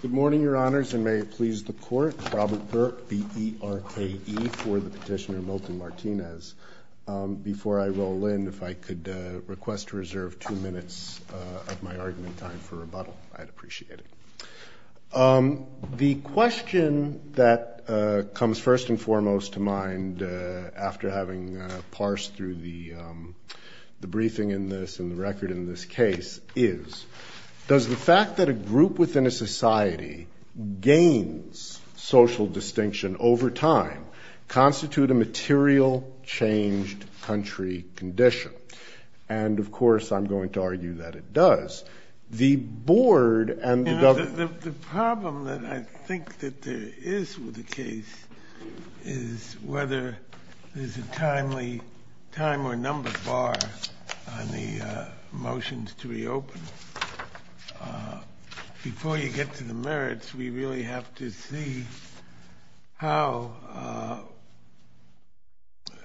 Good morning, Your Honors, and may it please the Court, Robert Burke, B-E-R-K-E, for the petitioner Milton Martinez. Before I roll in, if I could request to reserve two minutes of my argument time for rebuttal, I'd appreciate it. The question that comes first and foremost to mind after having parsed through the briefing in this and the record in this case is, does the fact that a group within a society gains social distinction over time constitute a material changed country condition? And, of course, I'm going to argue that it does. The problem that I think that there is with the case is whether there's a timely time or number bar on the motions to reopen. Before you get to the merits, we really have to see how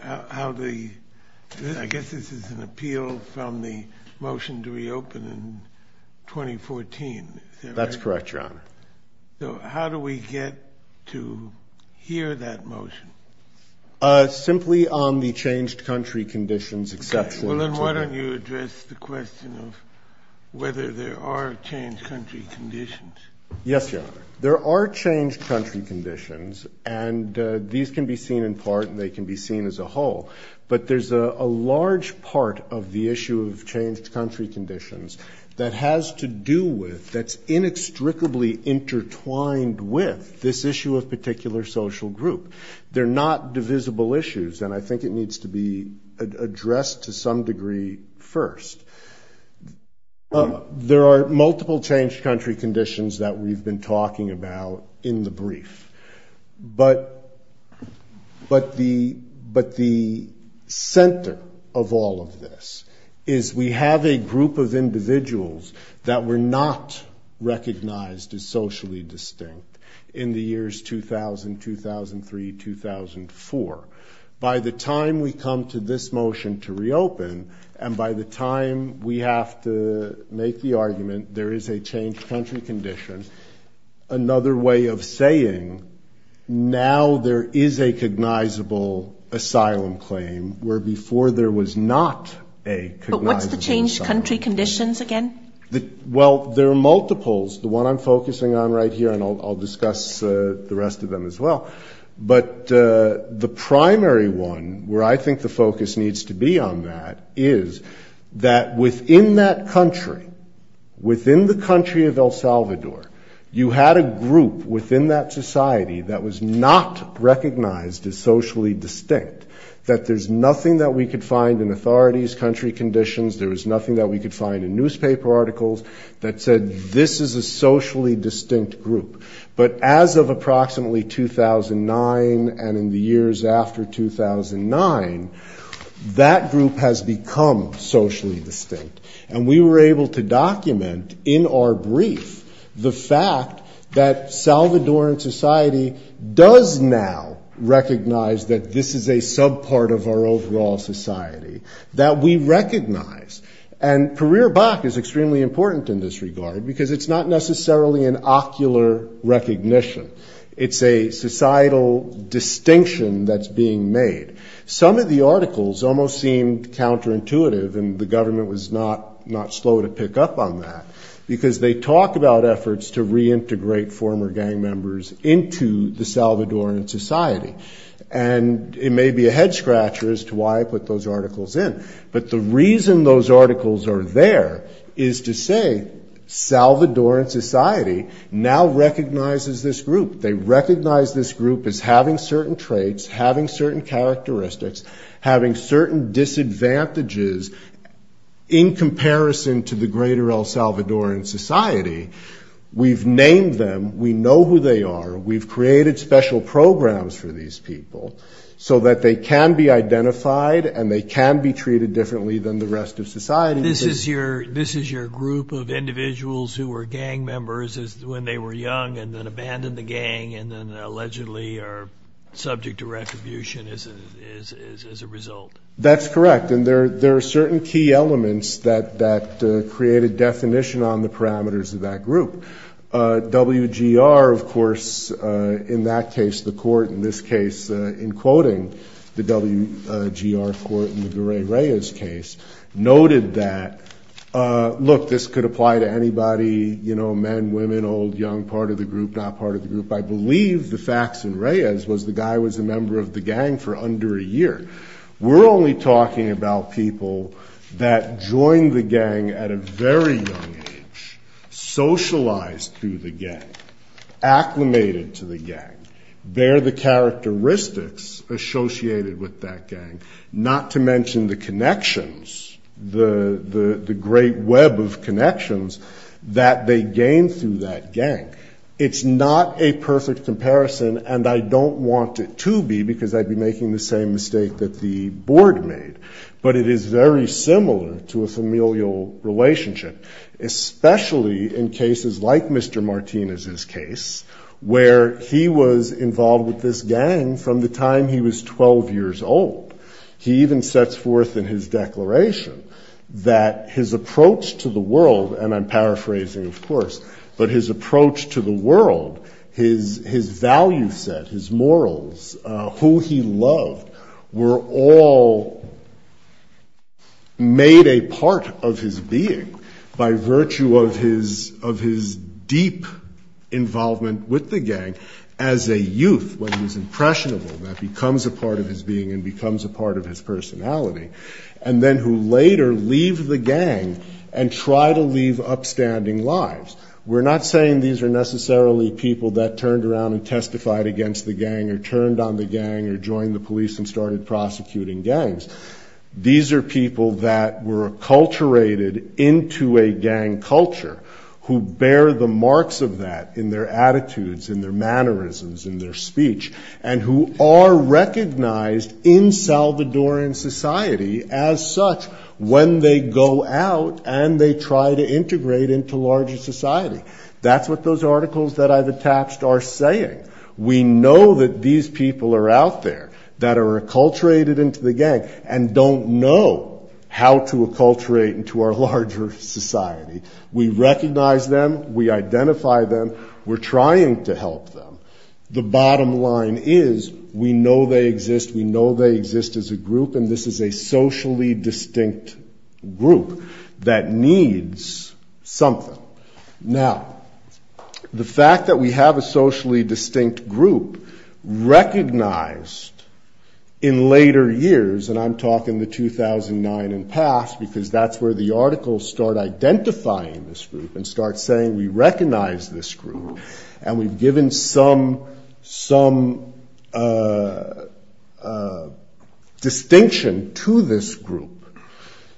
the – I guess this is an appeal from the motion to reopen in 2014. Is that right? That's correct, Your Honor. So how do we get to hear that motion? Simply on the changed country conditions, except for – Well, then why don't you address the question of whether there are changed country conditions? Yes, Your Honor. There are changed country conditions, and these can be seen in part and they can be seen as a whole. But there's a large part of the issue of changed country conditions that has to do with, that's inextricably intertwined with, this issue of particular social group. They're not divisible issues, and I think it needs to be addressed to some degree first. There are multiple changed country conditions that we've been talking about in the brief. But the center of all of this is we have a group of individuals that were not recognized as socially distinct in the years 2000, 2003, 2004. By the time we come to this motion to reopen, and by the time we have to make the argument there is a changed country condition, another way of saying now there is a cognizable asylum claim where before there was not a cognizable asylum claim. But what's the changed country conditions again? Well, there are multiples. The one I'm focusing on right here, and I'll discuss the rest of them as well. But the primary one where I think the focus needs to be on that is that within that country, within the country of El Salvador, you had a group within that society that was not recognized as socially distinct, that there's nothing that we could find in authorities' country conditions, there was nothing that we could find in newspaper articles that said this is a socially distinct group. But as of approximately 2009 and in the years after 2009, that group has become socially distinct. And we were able to document in our brief the fact that Salvadoran society does now recognize that this is a subpart of our overall society, that we recognize. And Carrera-Bac is extremely important in this regard because it's not necessarily an ocular recognition. It's a societal distinction that's being made. Some of the articles almost seemed counterintuitive, and the government was not slow to pick up on that, because they talk about efforts to reintegrate former gang members into the Salvadoran society. And it may be a head-scratcher as to why I put those articles in. But the reason those articles are there is to say Salvadoran society now recognizes this group. They recognize this group as having certain traits, having certain characteristics, having certain disadvantages in comparison to the greater El Salvadoran society. We've named them. We know who they are. We've created special programs for these people so that they can be identified And this is your group of individuals who were gang members when they were young and then abandoned the gang and then allegedly are subject to retribution as a result. That's correct. And there are certain key elements that created definition on the parameters of that group. WGR, of course, in that case, the court, in this case, in quoting the WGR court in the Garay-Reyes case, noted that, look, this could apply to anybody, you know, men, women, old, young, part of the group, not part of the group. I believe the facts in Reyes was the guy was a member of the gang for under a year. We're only talking about people that joined the gang at a very young age, socialized through the gang, acclimated to the gang, bear the characteristics associated with that gang, not to mention the connections, the great web of connections that they gained through that gang. It's not a perfect comparison, and I don't want it to be because I'd be making the same mistake that the board made, but it is very similar to a familial relationship, especially in cases like Mr. Martinez's case, where he was involved with this gang from the time he was 12 years old. He even sets forth in his declaration that his approach to the world, and I'm paraphrasing, of course, but his approach to the world, his value set, his morals, who he loved, were all made a part of his being by virtue of his deep involvement with the gang as a youth, when he was impressionable, that becomes a part of his being and becomes a part of his personality, and then who later leave the gang and try to leave upstanding lives. We're not saying these are necessarily people that turned around and testified against the gang or turned on the gang or joined the police and started prosecuting gangs. These are people that were acculturated into a gang culture, who bear the marks of that in their attitudes, in their mannerisms, in their speech, and who are recognized in Salvadoran society as such when they go out and they try to integrate into larger society. That's what those articles that I've attached are saying. We know that these people are out there that are acculturated into the gang and don't know how to acculturate into our larger society. We recognize them, we identify them, we're trying to help them. The bottom line is we know they exist, we know they exist as a group, and this is a socially distinct group that needs something. Now, the fact that we have a socially distinct group recognized in later years, and I'm talking the 2009 and past, because that's where the articles start identifying this group and start saying we recognize this group and we've given some distinction to this group.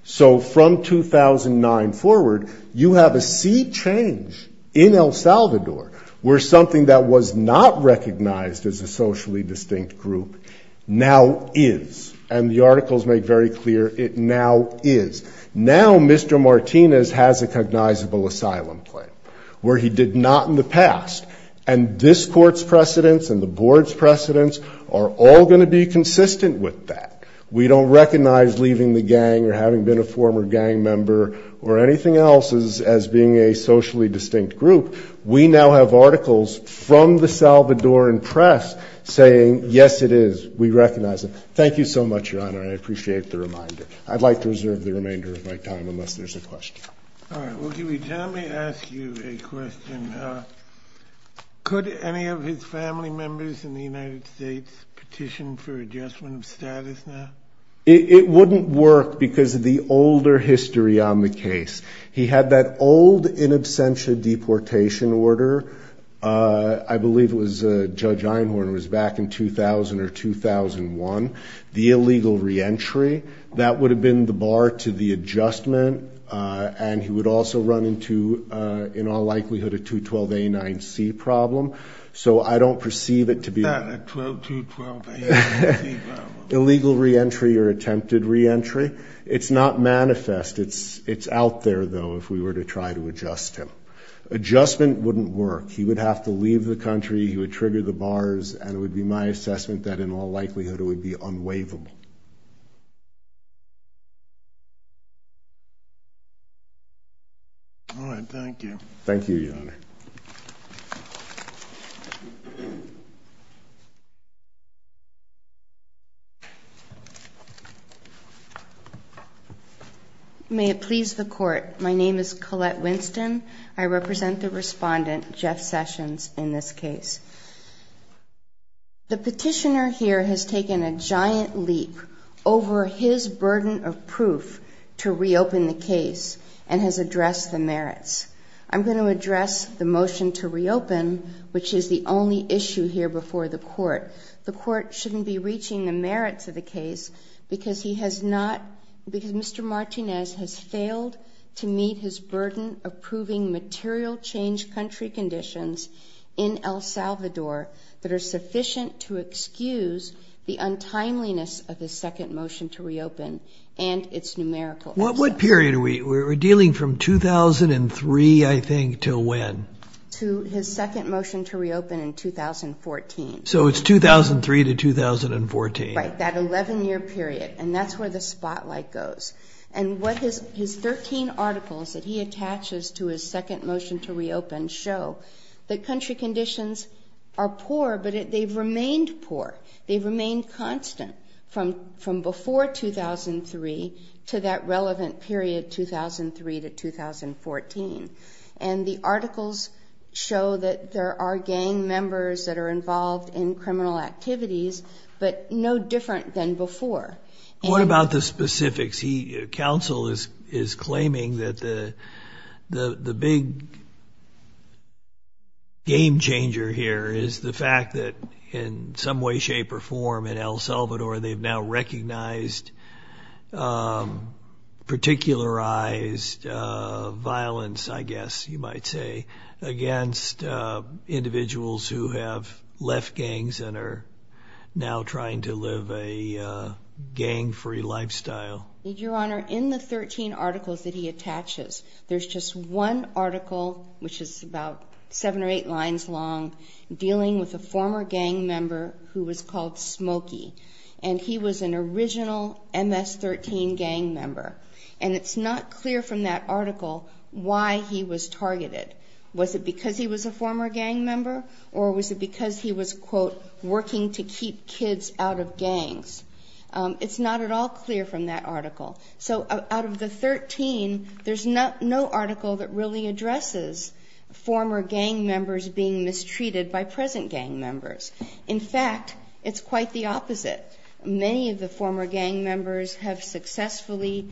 So from 2009 forward, you have a sea change in El Salvador where something that was not recognized as a socially distinct group now is, and the articles make very clear it now is. Now Mr. Martinez has a cognizable asylum claim, where he did not in the past, and this court's precedents and the board's precedents are all going to be consistent with that. We don't recognize leaving the gang or having been a former gang member or anything else as being a socially distinct group. We now have articles from the Salvadoran press saying yes it is, we recognize it. Thank you so much, Your Honor, I appreciate the reminder. I'd like to reserve the remainder of my time unless there's a question. All right, well, can we ask you a question? Could any of his family members in the United States petition for adjustment of status now? It wouldn't work because of the older history on the case. He had that old in absentia deportation order. I believe it was Judge Einhorn, it was back in 2000 or 2001, the illegal reentry. That would have been the bar to the adjustment, and he would also run into, in all likelihood, a 212A9C problem, so I don't perceive it to be an illegal reentry or attempted reentry. It's not manifest, it's out there, though, if we were to try to adjust him. Adjustment wouldn't work. He would have to leave the country, he would trigger the bars, and it would be my assessment that in all likelihood it would be unwaivable. All right, thank you. Thank you, Your Honor. Thank you. May it please the Court, my name is Colette Winston. I represent the respondent, Jeff Sessions, in this case. The petitioner here has taken a giant leap over his burden of proof to reopen the case and has addressed the merits. I'm going to address the motion to reopen, which is the only issue here before the Court. The Court shouldn't be reaching the merits of the case because he has not, because Mr. Martinez has failed to meet his burden of proving material change country conditions in El Salvador that are sufficient to excuse the untimeliness of the second motion to reopen and its numerical absence. What period are we? We're dealing from 2003, I think, to when? To his second motion to reopen in 2014. So it's 2003 to 2014. Right, that 11-year period, and that's where the spotlight goes. And his 13 articles that he attaches to his second motion to reopen show that country conditions are poor, but they've remained poor. They've remained constant from before 2003 to that relevant period, 2003 to 2014. And the articles show that there are gang members that are involved in criminal activities, but no different than before. What about the specifics? Council is claiming that the big game-changer here is the fact that in some way, shape, or form in El Salvador they've now recognized particularized violence, I guess you might say, against individuals who have left gangs and are now trying to live a gang-free lifestyle. Your Honor, in the 13 articles that he attaches, there's just one article, which is about seven or eight lines long, dealing with a former gang member who was called Smokey, and he was an original MS-13 gang member. And it's not clear from that article why he was targeted. Was it because he was a former gang member, or was it because he was, quote, working to keep kids out of gangs? It's not at all clear from that article. So out of the 13, there's no article that really addresses former gang members being mistreated by present gang members. In fact, it's quite the opposite. Many of the former gang members have successfully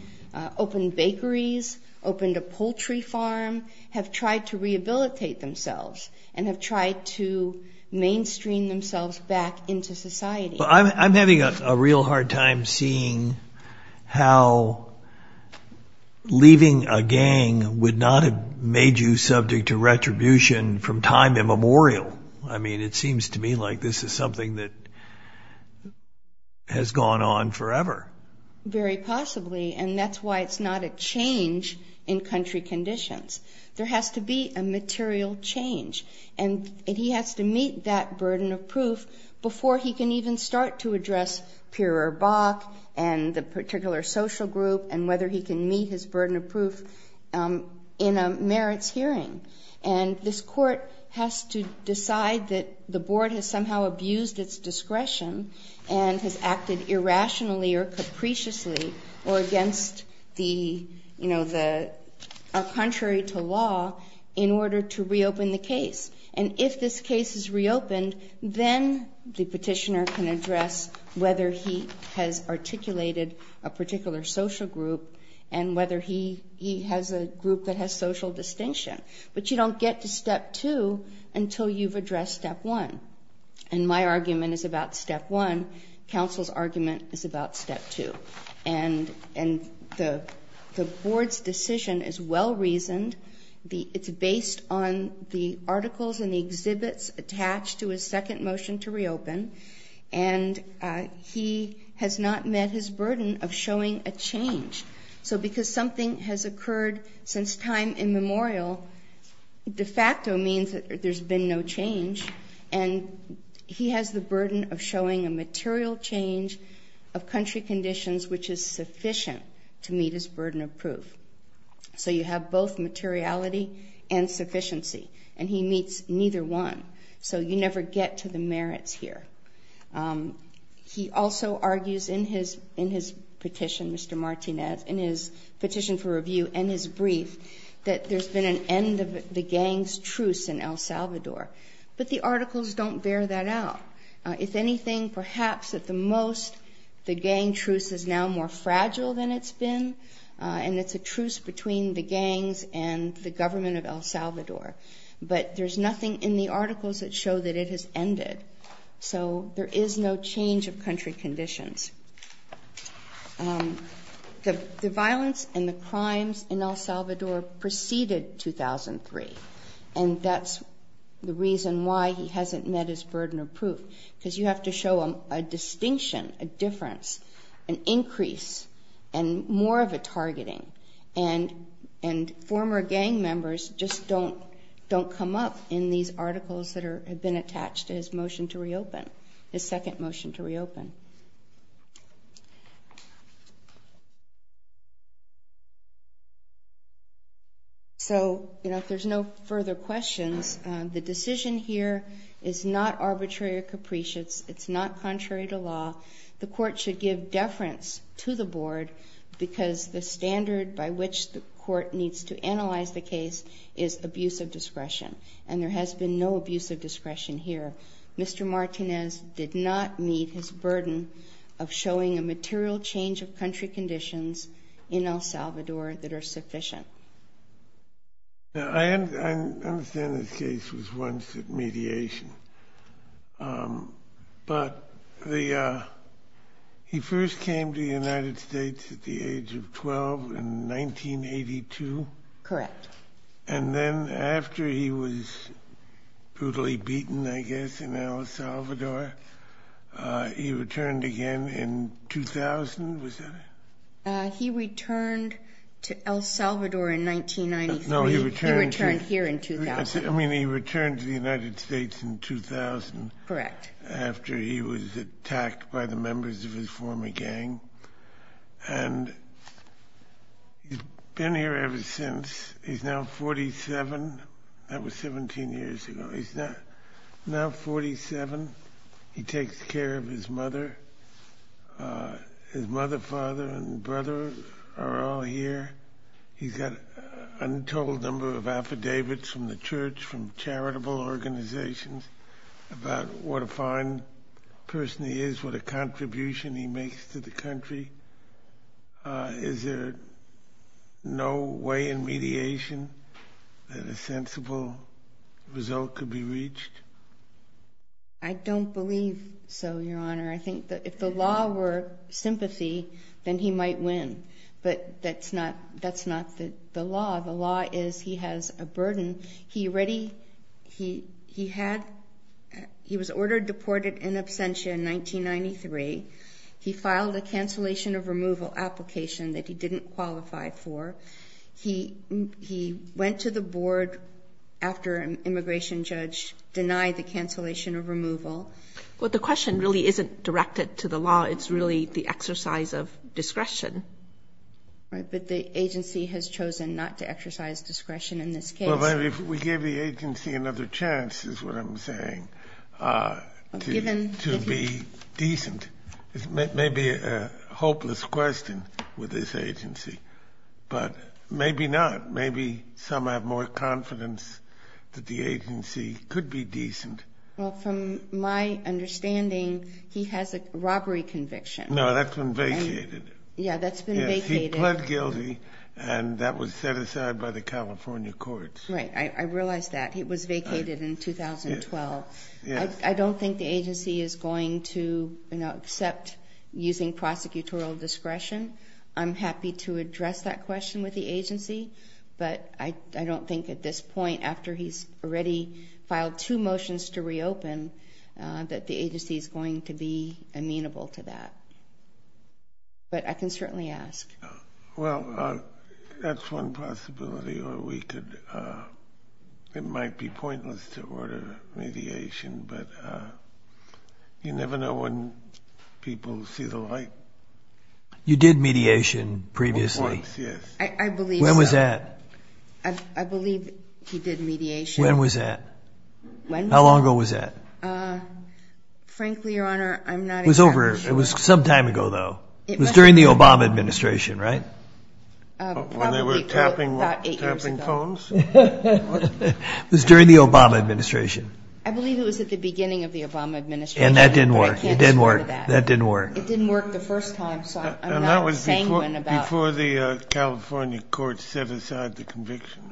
opened bakeries, opened a poultry farm, have tried to rehabilitate themselves, and have tried to mainstream themselves back into society. Well, I'm having a real hard time seeing how leaving a gang would not have made you subject to retribution from time immemorial. I mean, it seems to me like this is something that has gone on forever. Very possibly, and that's why it's not a change in country conditions. There has to be a material change, and he has to meet that burden of proof before he can even start to address Peer or Bach and the particular social group, and whether he can meet his burden of proof in a merits hearing. And this court has to decide that the board has somehow abused its discretion and has acted irrationally or capriciously or against the contrary to law in order to reopen the case. And if this case is reopened, then the petitioner can address whether he has articulated a particular social group and whether he has a group that has social distinction. But you don't get to Step 2 until you've addressed Step 1. And my argument is about Step 1. Counsel's argument is about Step 2. And the board's decision is well-reasoned. It's based on the articles and the exhibits attached to his second motion to reopen, and he has not met his burden of showing a change. So because something has occurred since time immemorial, de facto means that there's been no change, and he has the burden of showing a material change of country conditions which is sufficient to meet his burden of proof. So you have both materiality and sufficiency, and he meets neither one. So you never get to the merits here. He also argues in his petition, Mr. Martinez, in his petition for review and his brief, that there's been an end of the gang's truce in El Salvador. But the articles don't bear that out. If anything, perhaps at the most the gang truce is now more fragile than it's been, and it's a truce between the gangs and the government of El Salvador. But there's nothing in the articles that show that it has ended. So there is no change of country conditions. The violence and the crimes in El Salvador preceded 2003, and that's the reason why he hasn't met his burden of proof, because you have to show a distinction, a difference, an increase, and more of a targeting. And former gang members just don't come up in these articles that have been attached to his motion to reopen, his second motion to reopen. So if there's no further questions, the decision here is not arbitrary or capricious. It's not contrary to law. The court should give deference to the board, because the standard by which the court needs to analyze the case is abuse of discretion, and there has been no abuse of discretion here. Mr. Martinez did not meet his burden of showing a material change of country conditions in El Salvador that are sufficient. I understand this case was once at mediation, but he first came to the United States at the age of 12 in 1982, and then after he was brutally beaten, I guess, in El Salvador, he returned again in 2000, was that it? He returned to El Salvador in 1993. No, he returned here in 2000. I mean, he returned to the United States in 2000 after he was attacked by the members of his former gang, and he's been here ever since. He's now 47. That was 17 years ago. He's now 47. He takes care of his mother. His mother, father, and brother are all here. He's got an untold number of affidavits from the church, from charitable organizations, about what a fine person he is, what a contribution he makes to the country. Is there no way in mediation that a sensible result could be reached? I don't believe so, Your Honor. If the law were sympathy, then he might win, but that's not the law. The law is he has a burden. He was ordered deported in absentia in 1993. He filed a cancellation of removal application that he didn't qualify for. He went to the board after an immigration judge denied the cancellation of removal. Well, the question really isn't directed to the law. It's really the exercise of discretion. Right, but the agency has chosen not to exercise discretion in this case. We gave the agency another chance, is what I'm saying, to be decent. It may be a hopeless question with this agency, but maybe not. Maybe some have more confidence that the agency could be decent. Well, from my understanding, he has a robbery conviction. No, that's been vacated. Yes, he pled guilty, and that was set aside by the California courts. Right, I realize that. It was vacated in 2012. I don't think the agency is going to accept using prosecutorial discretion. I'm happy to address that question with the agency, but I don't think at this point, after he's already filed two motions to reopen, that the agency is going to be amenable to that, but I can certainly ask. Well, that's one possibility. It might be pointless to order mediation, but you never know when people see the light. You did mediation previously. I believe he did mediation. When was that? How long ago was that? Frankly, Your Honor, I'm not exactly sure. It was some time ago, though. It was during the Obama administration, right? Probably about eight years ago. It was during the Obama administration. I believe it was at the beginning of the Obama administration, but I can't remember that. It didn't work the first time, so I'm not saying anything about it. That was before the California courts set aside the conviction.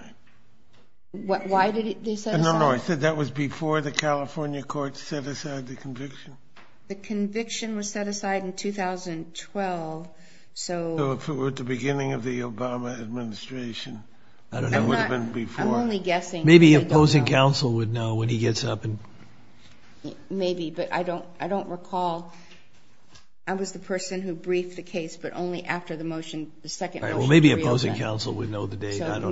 The conviction was set aside in 2012. So if it were at the beginning of the Obama administration, that would have been before. Maybe opposing counsel would know when he gets up. Maybe, but I don't recall. I was the person who briefed the case, but only after the second motion to reopen. All right, well, maybe opposing counsel would know the date. I don't know.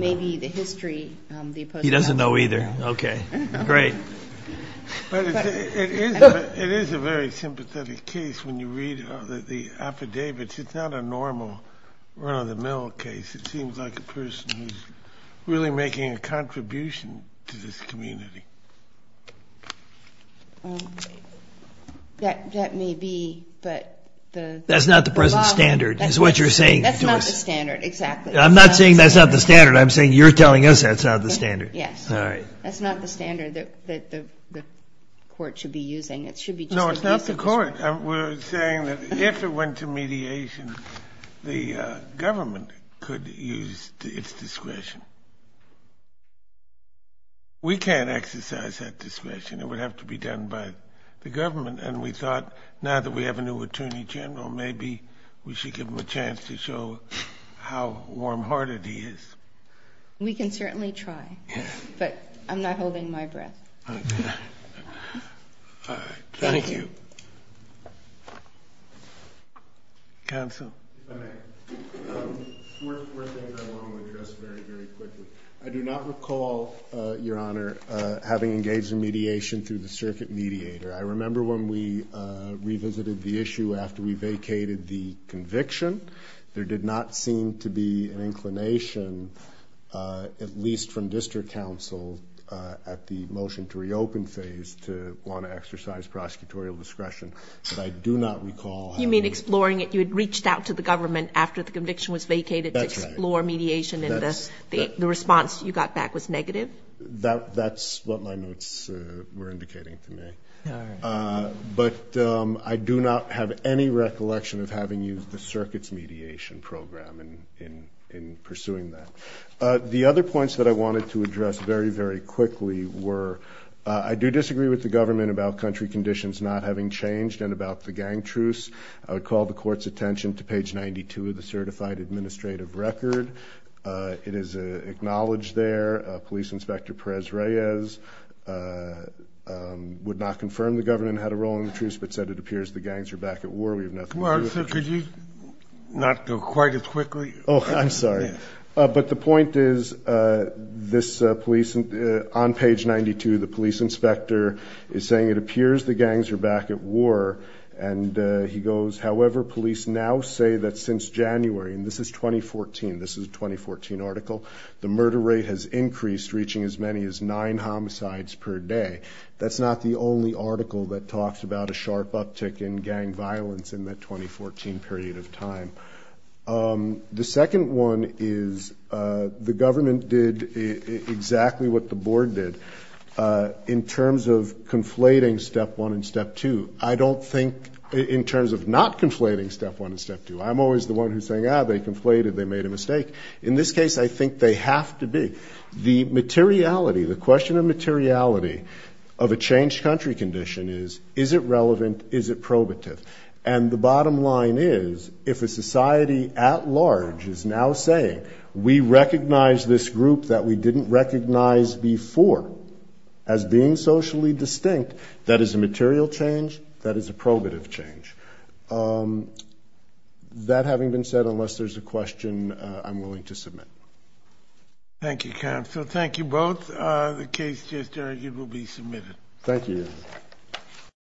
He doesn't know either. Okay, great. It is a very sympathetic case when you read the affidavits. It's not a normal run-of-the-mill case. It seems like a person who's really making a contribution to this community. That may be, but the law... That's not the present standard is what you're saying to us. That's not the standard, exactly. I'm not saying that's not the standard. I'm saying you're telling us that's not the standard. Yes. All right. That's not the standard that the court should be using. No, it's not the court. We're saying that if it went to mediation, the government could use its discretion. We can't exercise that discretion. It would have to be done by the government, and we thought now that we have a new attorney general, maybe we should give him a chance to show how warm-hearted he is. We can certainly try, but I'm not holding my breath. All right. Thank you. Counsel. If I may. Four things I want to address very, very quickly. I do not recall, Your Honor, having engaged in mediation through the circuit mediator. I remember when we revisited the issue after we vacated the conviction. There did not seem to be an inclination, at least from district counsel, at the motion to reopen phase to want to exercise prosecutorial discretion. But I do not recall having... You got back to the government after the conviction was vacated to explore mediation and the response you got back was negative? That's what my notes were indicating to me. But I do not have any recollection of having used the circuit's mediation program in pursuing that. The other points that I wanted to address very, very quickly were I do disagree with the government about country conditions not having changed and about the gang truce. I would call the court's attention to page 92 of the certified administrative record. It is acknowledged there Police Inspector Perez-Reyes would not confirm the government had a role in the truce but said it appears the gangs are back at war. We have nothing to do with the truce. Well, so could you not go quite as quickly? Oh, I'm sorry. But the point is, on page 92, the police inspector is saying it appears the gangs are back at war and he goes, however, police now say that since January, and this is 2014, this is a 2014 article, the murder rate has increased reaching as many as nine homicides per day. That's not the only article that talks about a sharp uptick in gang violence in that 2014 period of time. The second one is the government did exactly what the board did in terms of conflating step one and step two. I don't think in terms of not conflating step one and step two. I'm always the one who's saying, ah, they conflated, they made a mistake. In this case, I think they have to be. The materiality, the question of materiality of a changed country condition is, is it relevant, is it probative? And the bottom line is, if a society at large is now saying we recognize this group that we didn't recognize before as being socially distinct, that is a material change, that is a probative change. That having been said, unless there's a question, I'm willing to submit. Thank you, counsel. Thank you both. The case just argued will be submitted. Thank you.